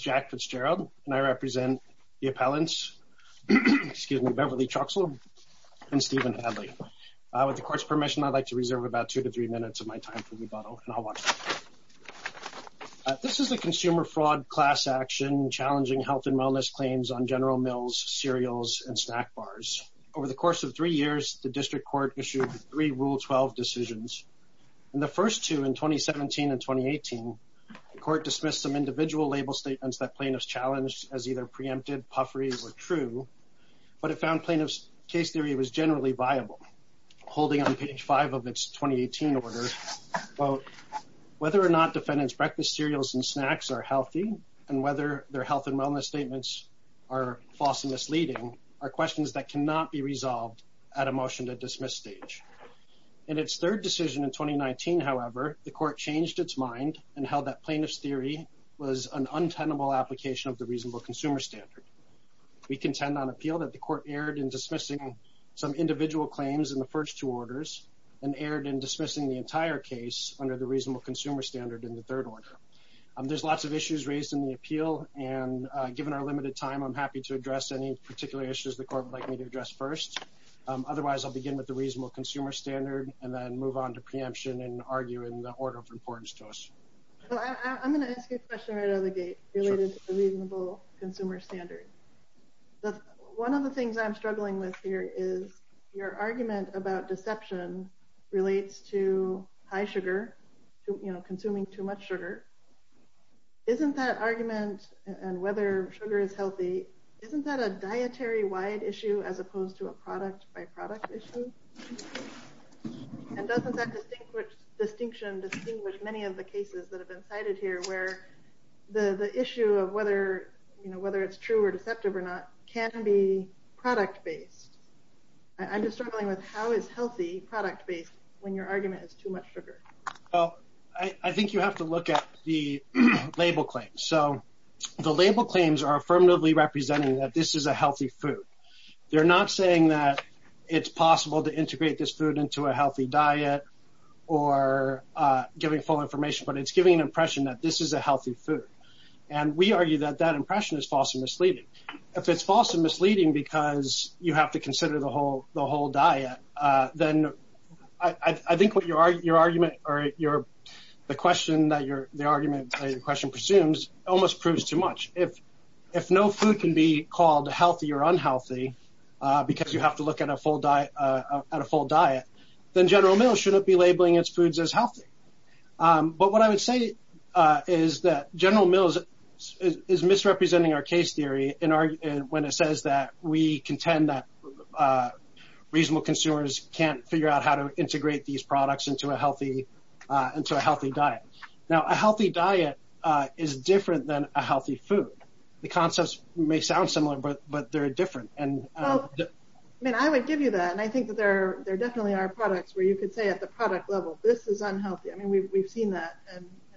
Jack Fitzgerald, Appellant, Beverly Truxel v. Stephen Hadley Consumer Fraud Class Action Challenging Health and Wellness Claims on General Mills Cereals and Snack Bars Over the course of three years, the District Court issued three Rule 12 decisions. In the first two, in 2017 and 2018, the Court dismissed some individual label statements that plaintiffs challenged as either preemptive, puffery, or true, but it found plaintiffs' case theory was generally viable. Holding on page 5 of its 2018 order, quote, whether or not defendants' breakfast cereals and snacks are healthy and whether their health and wellness statements are falsely misleading are questions that cannot be resolved at a motion to dismiss stage. In its third decision in 2019, however, the Court changed its mind and held that plaintiffs' theory was an untenable application of the reasonable consumer standard. We contend on appeal that the Court erred in dismissing some individual claims in the first two orders and erred in dismissing the entire case under the reasonable consumer standard in the third order. There's lots of issues raised in the appeal, and given our limited time, I'm happy to address any particular issues the Court would like me to address first. Otherwise, I'll begin with the reasonable consumer standard and then move on to preemption and argue in the order of importance to us. I'm going to ask you a question right out of the gate related to the reasonable consumer standard. One of the things I'm struggling with here is your argument about deception relates to high sugar, you know, consuming too much sugar. Isn't that argument and whether sugar is healthy, isn't that a dietary-wide issue as opposed to a product-by-product issue? And doesn't that distinction distinguish many of the cases that have been cited here where the issue of whether it's true or deceptive or not can be product-based? I'm just struggling with how is healthy product-based when your argument is too much sugar? Well, I think you have to look at the label claims. So the label claims are affirmatively representing that this is a healthy food. They're not saying that it's possible to integrate this food into a healthy diet or giving full information, but it's giving an impression that this is a healthy food. And we argue that that impression is false and misleading. If it's false and misleading because you have to consider the whole diet, then I think what your argument or the question that your argument or your question presumes almost proves too much. If no food can be called healthy or unhealthy because you have to look at a full diet, then General Mills shouldn't be labeling its foods as healthy. But what I would say is that General Mills is misrepresenting our case theory when it says that we contend that reasonable consumers can't figure out how to integrate these products into a healthy diet. Now, a healthy diet is different than a healthy food. The concepts may sound similar, but they're different. I would give you that, and I think that there definitely are products where you could say at the product level, this is unhealthy. I mean, we've seen that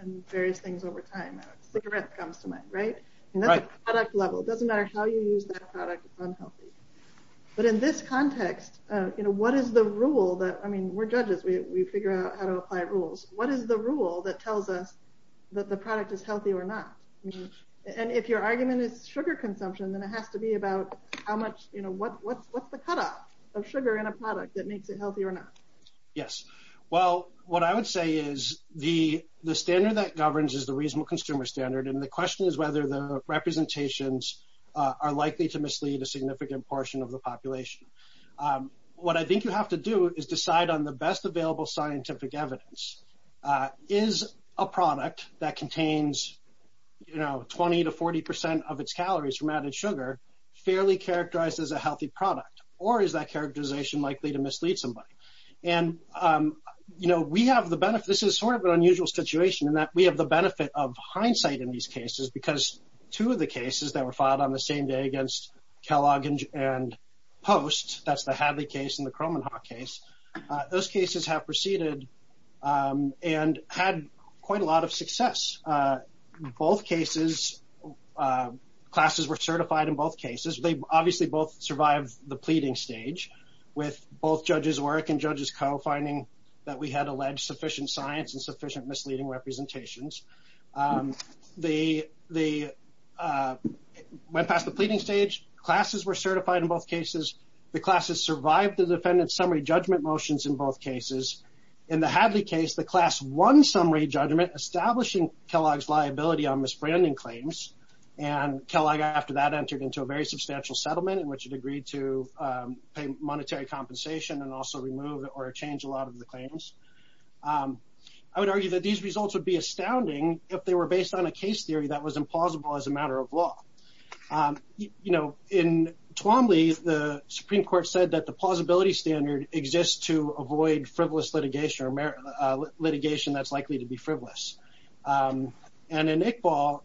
in various things over time. Cigarette comes to mind, right? And at the product level, it doesn't matter how you use that product, it's unhealthy. But in this context, what is the rule that – I mean, we're judges. We figure out how to apply rules. What is the rule that tells us that the product is healthy or not? And if your argument is sugar consumption, then it has to be about how much – what's the cutoff of sugar in a product that makes it healthy or not? Yes. Well, what I would say is the standard that governs is the reasonable consumer standard, and the question is whether the representations are likely to mislead a significant portion of the population. What I think you have to do is decide on the best available scientific evidence. Is a product that contains 20 to 40 percent of its calories from added sugar fairly characterized as a healthy product, or is that characterization likely to mislead somebody? And, you know, we have the benefit – this is sort of an unusual situation in that we have the benefit of hindsight in these cases because two of the cases that were filed on the same day against Kellogg and Post – that's the Hadley case and the Cromenhawk case – those cases have proceeded and had quite a lot of success. In both cases, classes were certified in both cases. They obviously both survived the pleading stage with both judges' work and judges' co-finding that we had alleged sufficient science and sufficient misleading representations. They went past the pleading stage. Classes were certified in both cases. The classes survived the defendant's summary judgment motions in both cases. In the Hadley case, the class won summary judgment, establishing Kellogg's liability on misbranding claims, and Kellogg after that entered into a very substantial settlement in which it agreed to pay monetary compensation and also remove or change a lot of the claims. I would argue that these results would be astounding if they were based on a case theory that was implausible as a matter of law. You know, in Twombly, the Supreme Court said that the plausibility standard exists to avoid frivolous litigation or litigation that's likely to be frivolous. And in Iqbal,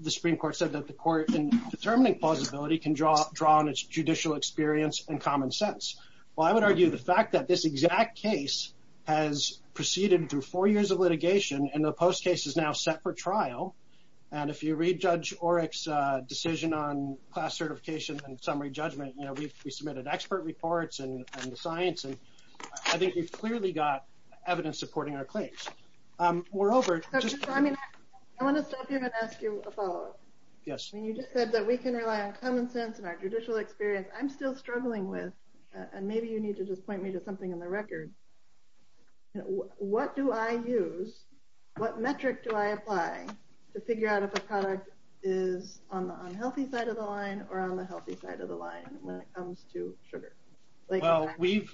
the Supreme Court said that the court in determining plausibility can draw on its judicial experience and common sense. Well, I would argue the fact that this exact case has proceeded through four years of litigation and the post-case is now set for trial, and if you read Judge Oreck's decision on class certification and summary judgment, you know, we submitted expert reports and the science, and I think we've clearly got evidence supporting our claims. We're over. I want to stop you and ask you a follow-up. Yes. When you just said that we can rely on common sense and our judicial experience, I'm still struggling with, and maybe you need to just point me to something in the record, what do I use, what metric do I apply to figure out if a product is on the unhealthy side of the line or on the healthy side of the line when it comes to sugar? Well, we've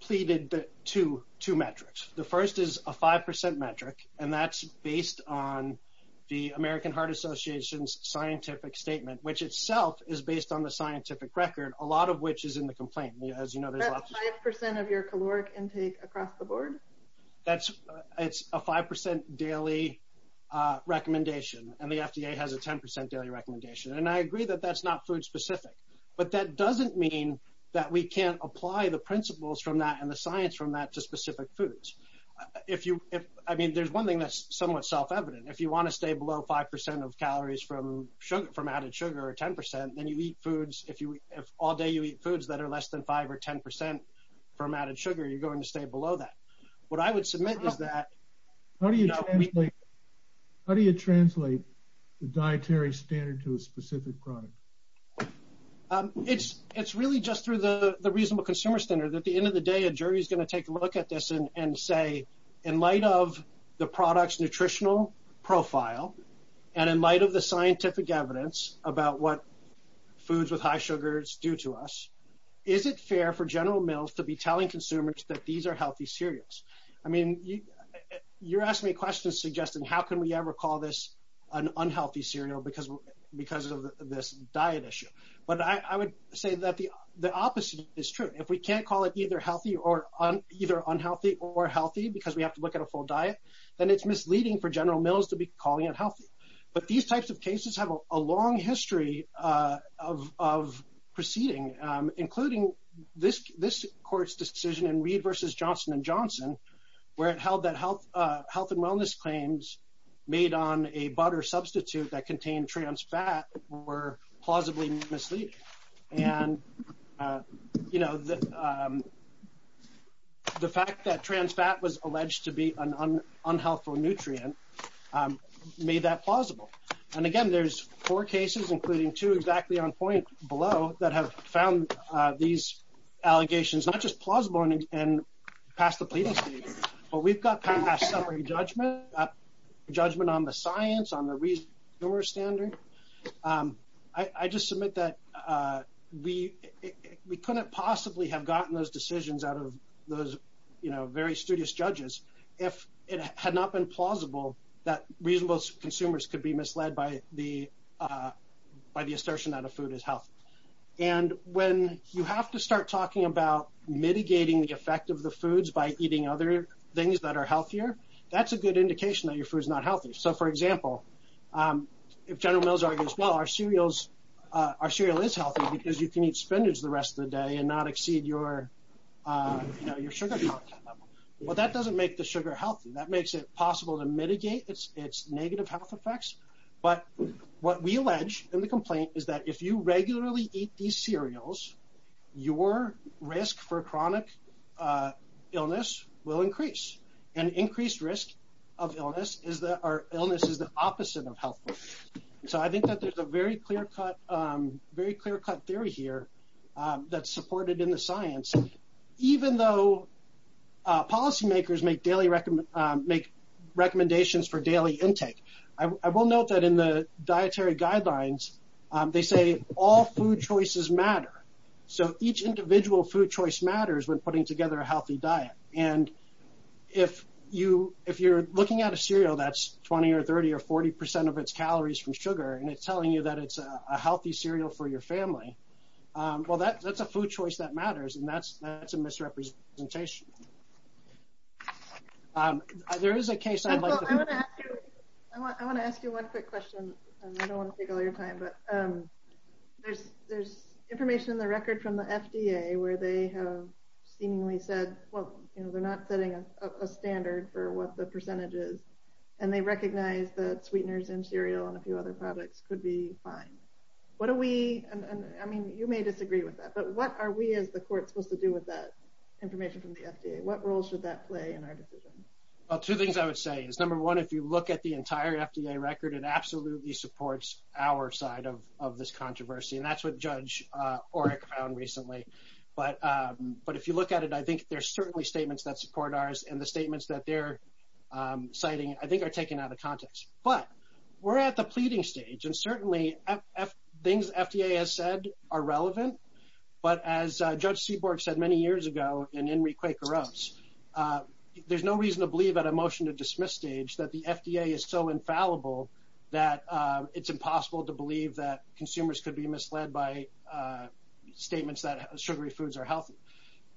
pleaded two metrics. The first is a 5% metric, and that's based on the American Heart Association's scientific statement, which itself is based on the scientific record, a lot of which is in the complaint. That's 5% of your caloric intake across the board? It's a 5% daily recommendation, and the FDA has a 10% daily recommendation, and I agree that that's not food-specific, but that doesn't mean that we can't apply the principles from that and the science from that to specific foods. I mean, there's one thing that's somewhat self-evident. If you want to stay below 5% of calories from added sugar or 10%, then you eat foods – if all day you eat foods that are less than 5% or 10% from added sugar, you're going to stay below that. What I would submit is that – How do you translate the dietary standard to a specific product? It's really just through the reasonable consumer standard. At the end of the day, a jury is going to take a look at this and say, in light of the product's nutritional profile and in light of the scientific evidence about what foods with high sugars do to us, is it fair for General Mills to be telling consumers that these are healthy cereals? I mean, you're asking me a question suggesting how can we ever call this an unhealthy cereal because of this diet issue, but I would say that the opposite is true. If we can't call it either unhealthy or healthy because we have to look at a full diet, then it's misleading for General Mills to be calling it healthy. But these types of cases have a long history of proceeding, including this court's decision in Reed v. Johnson & Johnson, where it held that health and wellness claims made on a butter substitute that contained trans fat were plausibly misleading. And the fact that trans fat was alleged to be an unhealthful nutrient made that plausible. And again, there's four cases, including two exactly on point below, that have found these allegations not just plausible and past the pleading stage, but we've got past summary judgment, judgment on the science, on the reasonable consumer standard. I just submit that we couldn't possibly have gotten those decisions out of those very studious judges if it had not been plausible that reasonable consumers could be misled by the assertion that a food is health. And when you have to start talking about mitigating the effect of the foods by eating other things that are healthier, that's a good indication that your food is not healthy. So, for example, if General Mills argues, well, our cereal is healthy because you can eat spinach the rest of the day and not exceed your sugar content level. Well, that doesn't make the sugar healthy. That makes it possible to mitigate its negative health effects. But what we allege in the complaint is that if you regularly eat these cereals, your risk for chronic illness will increase and increased risk of illness is that our illness is the opposite of health. So I think that there's a very clear cut theory here that's supported in the science. Even though policymakers make daily recommendations for daily intake, I will note that in the dietary guidelines, they say all food choices matter. So each individual food choice matters when putting together a healthy diet. And if you're looking at a cereal that's 20 or 30 or 40 percent of its calories from sugar and it's telling you that it's a healthy cereal for your family, well, that's a food choice that matters. And that's a misrepresentation. There is a case. I want to ask you one quick question. I don't want to take all your time, but there's information in the record from the FDA where they have seemingly said, well, you know, they're not setting a standard for what the percentage is. And they recognize that sweeteners and cereal and a few other products could be fine. I mean, you may disagree with that, but what are we as the court supposed to do with that information from the FDA? What role should that play in our decision? Well, two things I would say is, number one, if you look at the entire FDA record, it absolutely supports our side of this controversy. And that's what Judge Oreck found recently. But if you look at it, I think there's certainly statements that support ours. And the statements that they're citing, I think, are taken out of context. But we're at the pleading stage, and certainly things FDA has said are relevant. But as Judge Seaborg said many years ago, and Henry Quaker wrote, there's no reason to believe at a motion-to-dismiss stage that the FDA is so infallible that it's impossible to believe that consumers could be misled by statements that sugary foods are healthy.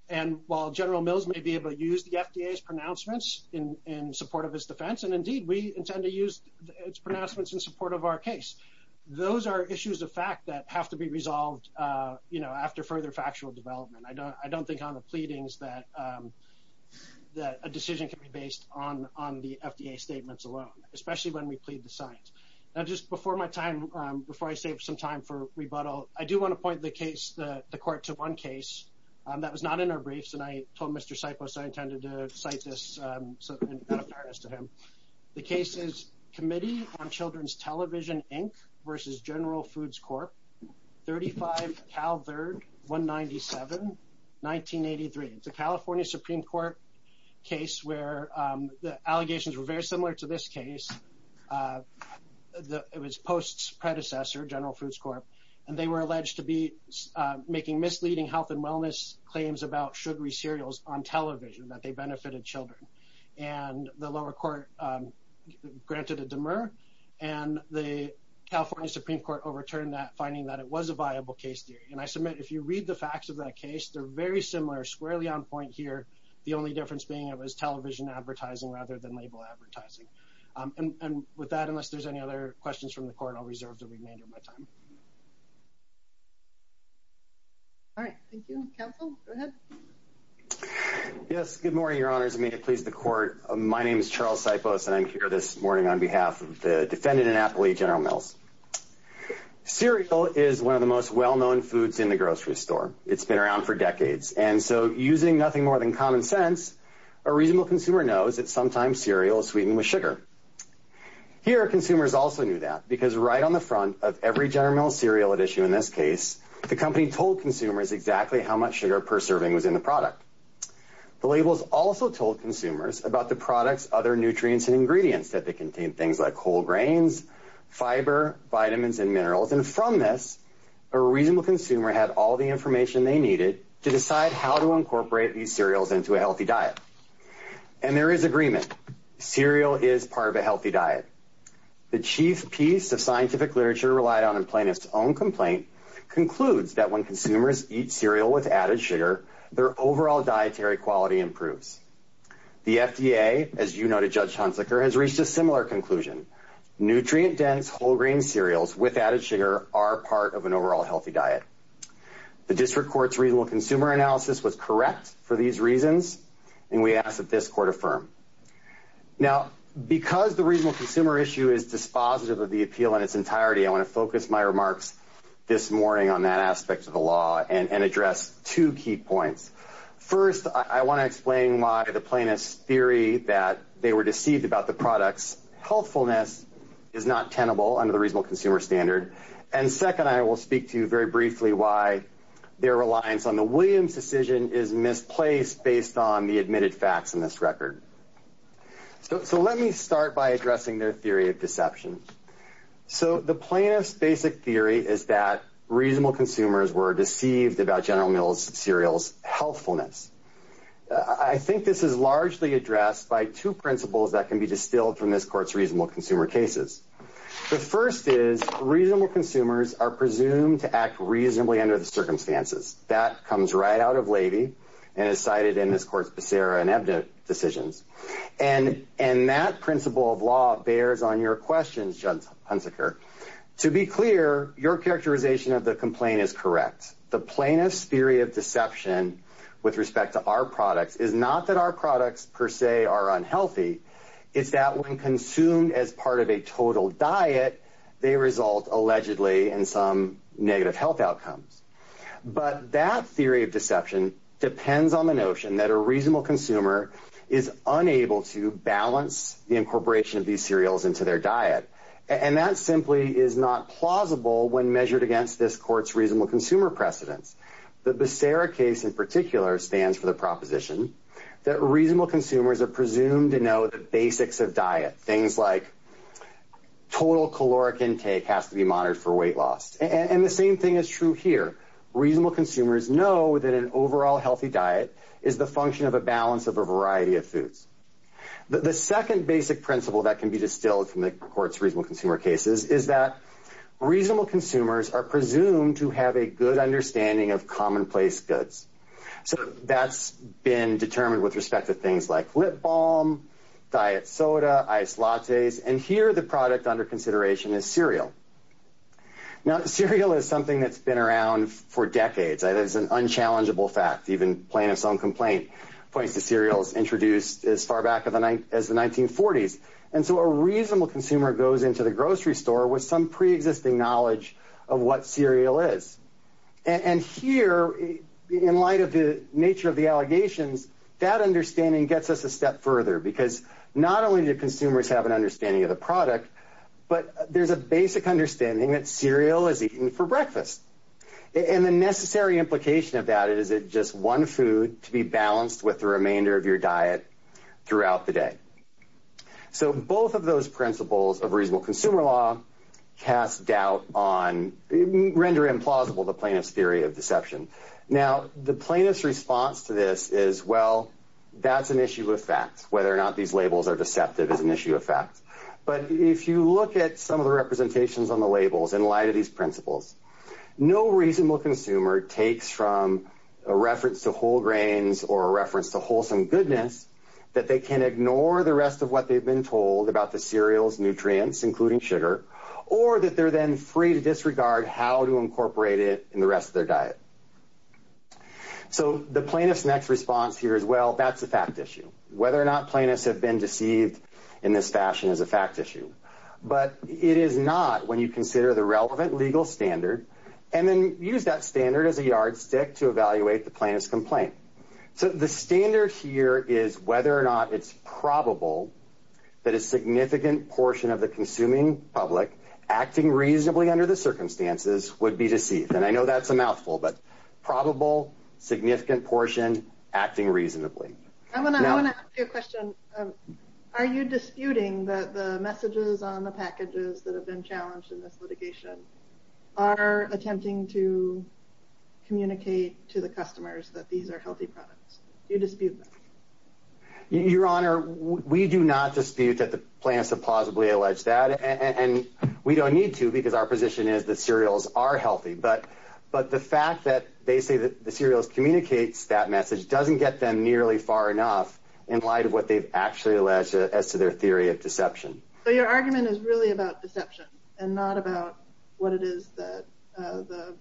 And while General Mills may be able to use the FDA's pronouncements in support of his defense, and indeed, we intend to use its pronouncements in support of our case, those are issues of fact that have to be resolved after further factual development. I don't think on the pleadings that a decision can be based on the FDA statements alone, especially when we plead the science. Now, just before my time, before I save some time for rebuttal, I do want to point the case, the court, to one case that was not in our briefs. And I told Mr. Sipos I intended to cite this out of fairness to him. The case is Committee on Children's Television, Inc. v. General Foods Corp., 35 Cal 3rd, 197, 1983. It's a California Supreme Court case where the allegations were very similar to this case. It was Post's predecessor, General Foods Corp., and they were alleged to be making misleading health and wellness claims about sugary cereals on television, that they benefited children. And the lower court granted a demur, and the California Supreme Court overturned that, finding that it was a viable case theory. And I submit if you read the facts of that case, they're very similar, squarely on point here, the only difference being it was television advertising rather than label advertising. And with that, unless there's any other questions from the court, I'll reserve the remainder of my time. All right, thank you. Counsel, go ahead. Yes, good morning, Your Honors, and may it please the court. My name is Charles Sipos, and I'm here this morning on behalf of the defendant in Appalachia General Mills. Cereal is one of the most well-known foods in the grocery store. It's been around for decades, and so using nothing more than common sense, a reasonable consumer knows that sometimes cereal is sweetened with sugar. Here, consumers also knew that, because right on the front of every General Mills cereal at issue in this case, the company told consumers exactly how much sugar per serving was in the product. The labels also told consumers about the products, other nutrients, and ingredients that they contained, things like whole grains, fiber, vitamins, and minerals. And from this, a reasonable consumer had all the information they needed to decide how to incorporate these cereals into a healthy diet. And there is agreement. Cereal is part of a healthy diet. The chief piece of scientific literature relied on a plaintiff's own complaint concludes that when consumers eat cereal with added sugar, their overall dietary quality improves. The FDA, as you noted, Judge Hunsaker, has reached a similar conclusion. Nutrient-dense, whole-grain cereals with added sugar are part of an overall healthy diet. The district court's reasonable consumer analysis was correct for these reasons, and we ask that this court affirm. Now, because the reasonable consumer issue is dispositive of the appeal in its entirety, I want to focus my remarks this morning on that aspect of the law and address two key points. First, I want to explain why the plaintiffs' theory that they were deceived about the products' healthfulness is not tenable under the reasonable consumer standard. And second, I will speak to you very briefly why their reliance on the Williams decision is misplaced based on the admitted facts in this record. So let me start by addressing their theory of deception. So the plaintiff's basic theory is that reasonable consumers were deceived about General Mills cereal's healthfulness. I think this is largely addressed by two principles that can be distilled from this court's reasonable consumer cases. The first is reasonable consumers are presumed to act reasonably under the circumstances. That comes right out of Levy and is cited in this court's Becerra and Ebda decisions. And that principle of law bears on your questions, Judge Hunziker. To be clear, your characterization of the complaint is correct. The plaintiff's theory of deception with respect to our products is not that our products per se are unhealthy. It's that when consumed as part of a total diet, they result allegedly in some negative health outcomes. But that theory of deception depends on the notion that a reasonable consumer is unable to balance the incorporation of these cereals into their diet. And that simply is not plausible when measured against this court's reasonable consumer precedents. The Becerra case in particular stands for the proposition that reasonable consumers are presumed to know the basics of diet, things like total caloric intake has to be monitored for weight loss. And the same thing is true here. Reasonable consumers know that an overall healthy diet is the function of a balance of a variety of foods. The second basic principle that can be distilled from the court's reasonable consumer cases is that So that's been determined with respect to things like lip balm, diet soda, ice lattes. And here the product under consideration is cereal. Now, cereal is something that's been around for decades. It is an unchallengeable fact. Even plaintiff's own complaint points to cereals introduced as far back as the 1940s. And so a reasonable consumer goes into the grocery store with some preexisting knowledge of what cereal is. And here, in light of the nature of the allegations, that understanding gets us a step further because not only do consumers have an understanding of the product, but there's a basic understanding that cereal is eaten for breakfast. And the necessary implication of that is it's just one food to be balanced with the remainder of your diet throughout the day. So both of those principles of reasonable consumer law cast doubt on, render implausible the plaintiff's theory of deception. Now, the plaintiff's response to this is, well, that's an issue of fact. Whether or not these labels are deceptive is an issue of fact. But if you look at some of the representations on the labels in light of these principles, no reasonable consumer takes from a reference to whole grains or a reference to wholesome goodness that they can ignore the rest of what they've been told about the cereal's nutrients, including sugar, or that they're then free to disregard how to incorporate it in the rest of their diet. So the plaintiff's next response here is, well, that's a fact issue. Whether or not plaintiffs have been deceived in this fashion is a fact issue. But it is not when you consider the relevant legal standard and then use that standard as a yardstick to evaluate the plaintiff's complaint. So the standard here is whether or not it's probable that a significant portion of the consuming public acting reasonably under the circumstances would be deceived. And I know that's a mouthful, but probable, significant portion, acting reasonably. I want to ask you a question. Are you disputing that the messages on the packages that have been challenged in this litigation are attempting to communicate to the customers that these are healthy products? Do you dispute that? Your Honor, we do not dispute that the plaintiffs have plausibly alleged that. And we don't need to because our position is that cereals are healthy. But the fact that they say that the cereals communicates that message doesn't get them nearly far enough in light of what they've actually alleged as to their theory of deception. So your argument is really about deception and not about what it is that the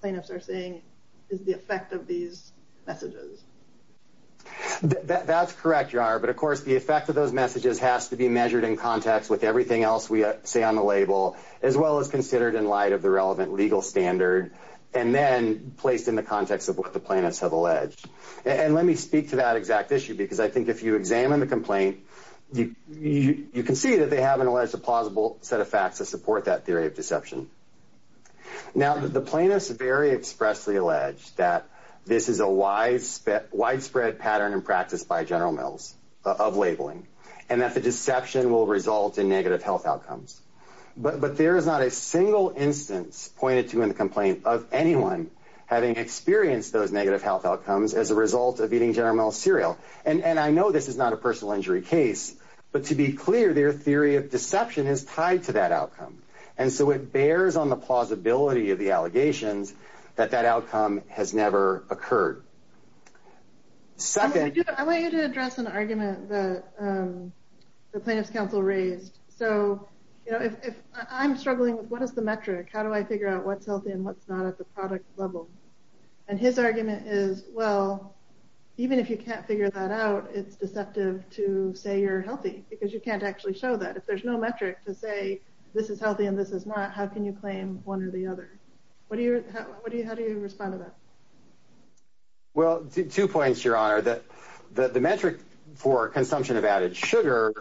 plaintiffs are saying is the effect of these messages. That's correct, Your Honor. But, of course, the effect of those messages has to be measured in context with everything else we say on the label as well as considered in light of the relevant legal standard and then placed in the context of what the plaintiffs have alleged. And let me speak to that exact issue because I think if you examine the complaint, you can see that they have alleged a plausible set of facts to support that theory of deception. Now, the plaintiffs very expressly allege that this is a widespread pattern in practice by General Mills of labeling and that the deception will result in negative health outcomes. But there is not a single instance pointed to in the complaint of anyone having experienced those negative health outcomes as a result of eating General Mills cereal. And I know this is not a personal injury case, but to be clear, their theory of deception is tied to that outcome. And so it bears on the plausibility of the allegations that that outcome has never occurred. I want you to address an argument that the plaintiffs' counsel raised. So if I'm struggling with what is the metric, how do I figure out what's healthy and what's not at the product level? And his argument is, well, even if you can't figure that out, it's deceptive to say you're healthy because you can't actually show that. If there's no metric to say this is healthy and this is not, how can you claim one or the other? How do you respond to that? Well, two points, Your Honor. The metric for consumption of added sugar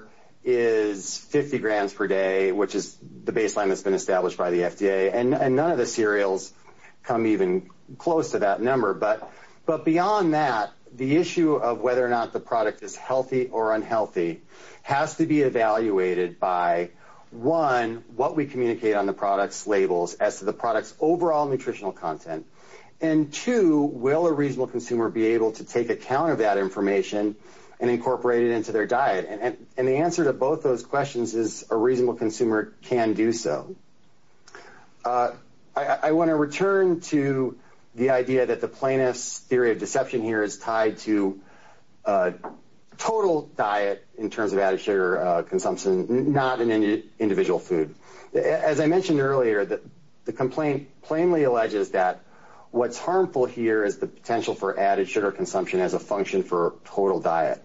is 50 grams per day, which is the baseline that's been established by the FDA. And none of the cereals come even close to that number. But beyond that, the issue of whether or not the product is healthy or unhealthy has to be evaluated by, one, what we communicate on the product's labels as to the product's overall nutritional content. And, two, will a reasonable consumer be able to take account of that information and incorporate it into their diet? And the answer to both those questions is a reasonable consumer can do so. I want to return to the idea that the plaintiff's theory of deception here is tied to total diet in terms of added sugar consumption, not an individual food. As I mentioned earlier, the complaint plainly alleges that what's harmful here is the potential for added sugar consumption as a function for total diet.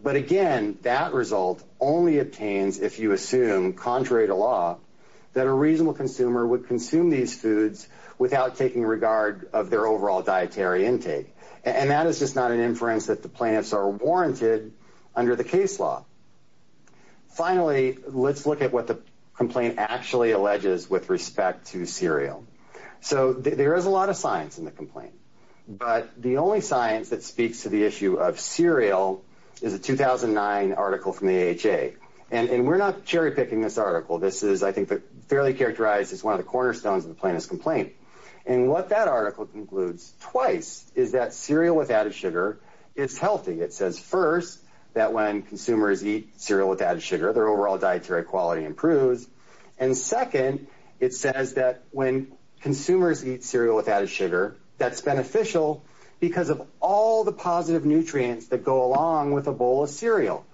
But, again, that result only obtains if you assume, contrary to law, that a reasonable consumer would consume these foods without taking regard of their overall dietary intake. And that is just not an inference that the plaintiffs are warranted under the case law. Finally, let's look at what the complaint actually alleges with respect to cereal. So there is a lot of science in the complaint. But the only science that speaks to the issue of cereal is a 2009 article from the AHA. And we're not cherry-picking this article. This is, I think, fairly characterized as one of the cornerstones of the plaintiff's complaint. And what that article concludes twice is that cereal without a sugar is healthy. It says, first, that when consumers eat cereal without a sugar, their overall dietary quality improves. And, second, it says that when consumers eat cereal without a sugar, that's beneficial because of all the positive nutrients that go along with a bowl of cereal.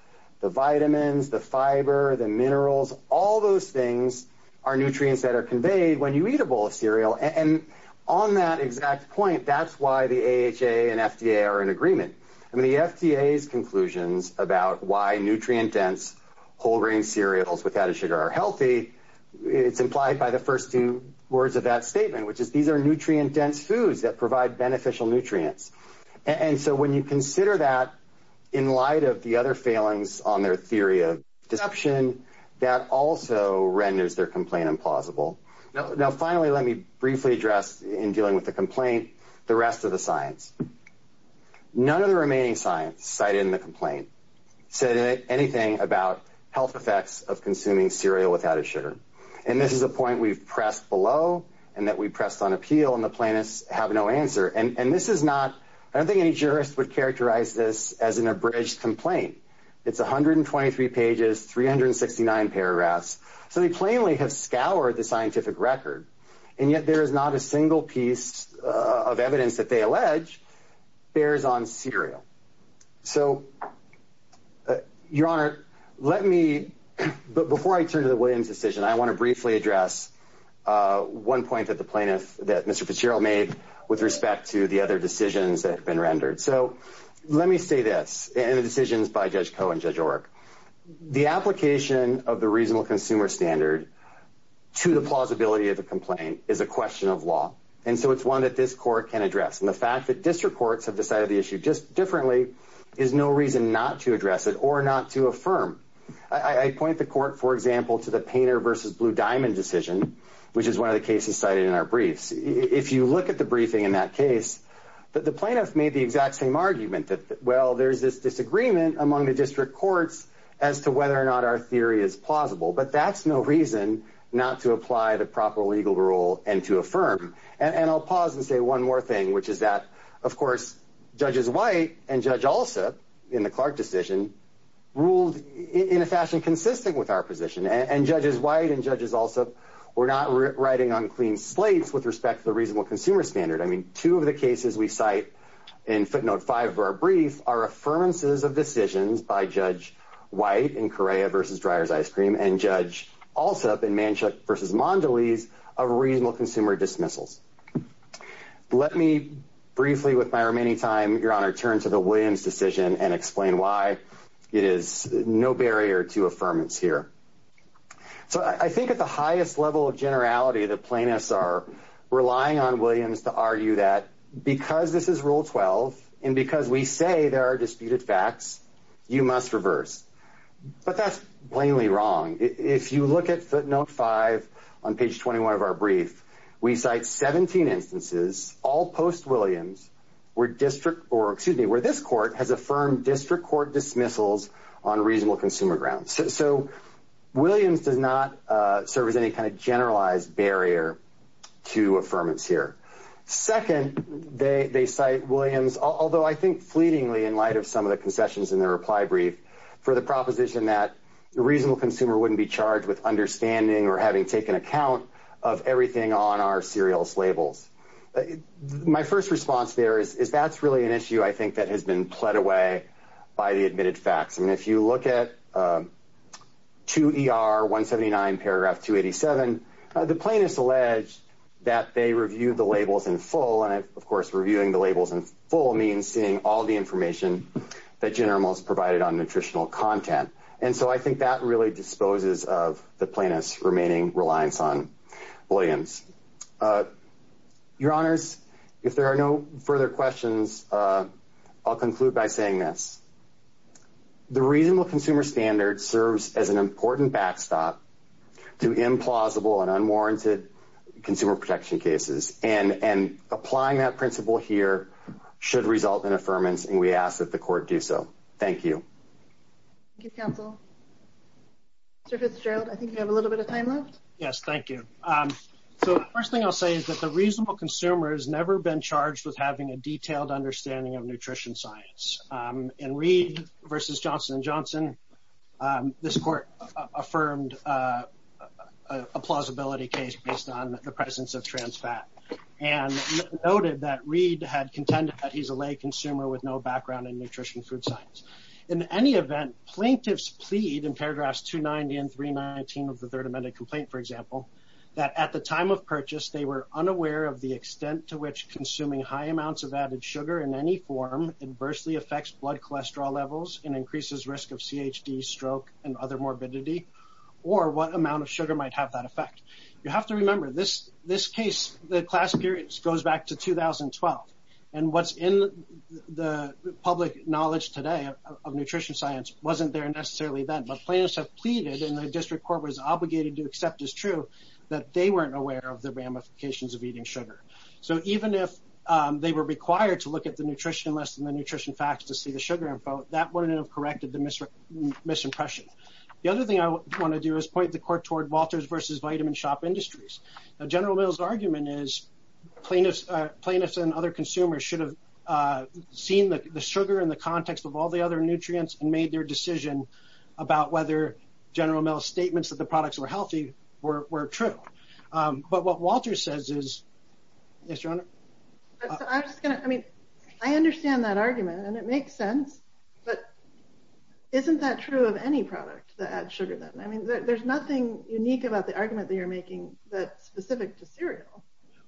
The vitamins, the fiber, the minerals, all those things are nutrients that are conveyed when you eat a bowl of cereal. And on that exact point, that's why the AHA and FDA are in agreement. I mean, the FDA's conclusions about why nutrient-dense whole-grain cereals without a sugar are healthy, it's implied by the first two words of that statement, which is these are nutrient-dense foods that provide beneficial nutrients. And so when you consider that in light of the other failings on their theory of deception, that also renders their complaint implausible. Now, finally, let me briefly address, in dealing with the complaint, the rest of the science. None of the remaining science cited in the complaint said anything about health effects of consuming cereal without a sugar. And this is a point we've pressed below and that we pressed on appeal, and the plaintiffs have no answer. And this is not – I don't think any jurist would characterize this as an abridged complaint. It's 123 pages, 369 paragraphs. So they plainly have scoured the scientific record, and yet there is not a single piece of evidence that they allege bears on cereal. So, Your Honor, let me – but before I turn to the Williams decision, I want to briefly address one point that the plaintiff, that Mr. Fitzgerald made, with respect to the other decisions that have been rendered. So let me say this, and the decisions by Judge Koh and Judge Orrick. The application of the reasonable consumer standard to the plausibility of the complaint is a question of law, and so it's one that this Court can address. And the fact that district courts have decided the issue just differently is no reason not to address it or not to affirm. I point the Court, for example, to the Painter v. Blue Diamond decision, which is one of the cases cited in our briefs. If you look at the briefing in that case, the plaintiff made the exact same argument, that, well, there's this disagreement among the district courts as to whether or not our theory is plausible. But that's no reason not to apply the proper legal rule and to affirm. And I'll pause and say one more thing, which is that, of course, Judges White and Judge Alsup, in the Clark decision, ruled in a fashion consistent with our position. And Judges White and Judges Alsup were not writing on clean slates with respect to the reasonable consumer standard. I mean, two of the cases we cite in footnote 5 of our brief are affirmances of decisions by Judge White in Correa v. Dreier's Ice Cream and Judge Alsup in Manshook v. Mondelez of reasonable consumer dismissals. Let me briefly, with my remaining time, Your Honor, turn to the Williams decision and explain why it is no barrier to affirmance here. So I think at the highest level of generality, the plaintiffs are relying on Williams to argue that because this is Rule 12 and because we say there are disputed facts, you must reverse. But that's plainly wrong. If you look at footnote 5 on page 21 of our brief, we cite 17 instances, all post-Williams, where this court has affirmed district court dismissals on reasonable consumer grounds. So Williams does not serve as any kind of generalized barrier to affirmance here. Second, they cite Williams, although I think fleetingly in light of some of the concessions in their reply brief, for the proposition that the reasonable consumer wouldn't be charged with understanding or having taken account of everything on our serialist labels. My first response there is that's really an issue I think that has been pled away by the admitted facts. I mean, if you look at 2 ER 179 paragraph 287, the plaintiffs allege that they reviewed the labels in full, and, of course, reviewing the labels in full means seeing all the information that General Mills provided on nutritional content. And so I think that really disposes of the plaintiffs' remaining reliance on Williams. Your Honors, if there are no further questions, I'll conclude by saying this. The reasonable consumer standard serves as an important backstop to implausible and unwarranted consumer protection cases, and applying that principle here should result in affirmance, and we ask that the court do so. Thank you. Thank you, counsel. Mr. Fitzgerald, I think you have a little bit of time left. Yes, thank you. So the first thing I'll say is that the reasonable consumer has never been charged with having a detailed understanding of nutrition science. In Reed v. Johnson & Johnson, this court affirmed a plausibility case based on the presence of trans fat and noted that Reed had contended that he's a lay consumer with no background in nutrition food science. In any event, plaintiffs plead in paragraphs 290 and 319 of the Third Amendment Complaint, for example, that at the time of purchase, they were unaware of the extent to which consuming high amounts of added sugar in any form adversely affects blood cholesterol levels and increases risk of CHD, stroke, and other morbidity, or what amount of sugar might have that effect. You have to remember, this case, the class period goes back to 2012, and what's in the public knowledge today of nutrition science wasn't there necessarily then, but plaintiffs have pleaded, and the district court was obligated to accept as true, that they weren't aware of the ramifications of eating sugar. So even if they were required to look at the nutrition list and the nutrition facts to see the sugar info, that wouldn't have corrected the misimpression. The other thing I want to do is point the court toward Walters v. Vitamin Shop Industries. General Mills' argument is plaintiffs and other consumers should have seen the sugar in the context of all the other nutrients and made their decision about whether General Mills' statements that the products were healthy were true. But what Walters says is, yes, Your Honor? I understand that argument, and it makes sense, but isn't that true of any product that adds sugar then? I mean, there's nothing unique about the argument that you're making that's specific to cereal.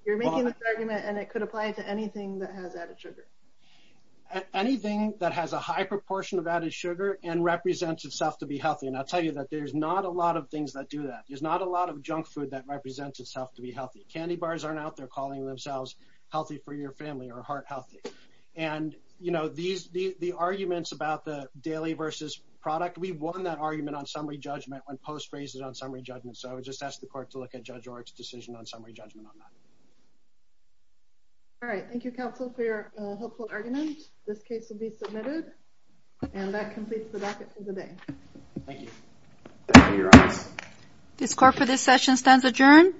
You're making this argument, and it could apply to anything that has added sugar. Anything that has a high proportion of added sugar and represents itself to be healthy, and I'll tell you that there's not a lot of things that do that. There's not a lot of junk food that represents itself to be healthy. Candy bars aren't out there calling themselves healthy for your family or heart healthy. The arguments about the daily versus product, we won that argument on summary judgment when Post raised it on summary judgment, so I would just ask the court to look at Judge Orrick's decision on summary judgment on that. All right. Thank you, counsel, for your helpful argument. This case will be submitted, and that completes the docket for the day. Thank you. Thank you, Your Honor. This court for this session stands adjourned.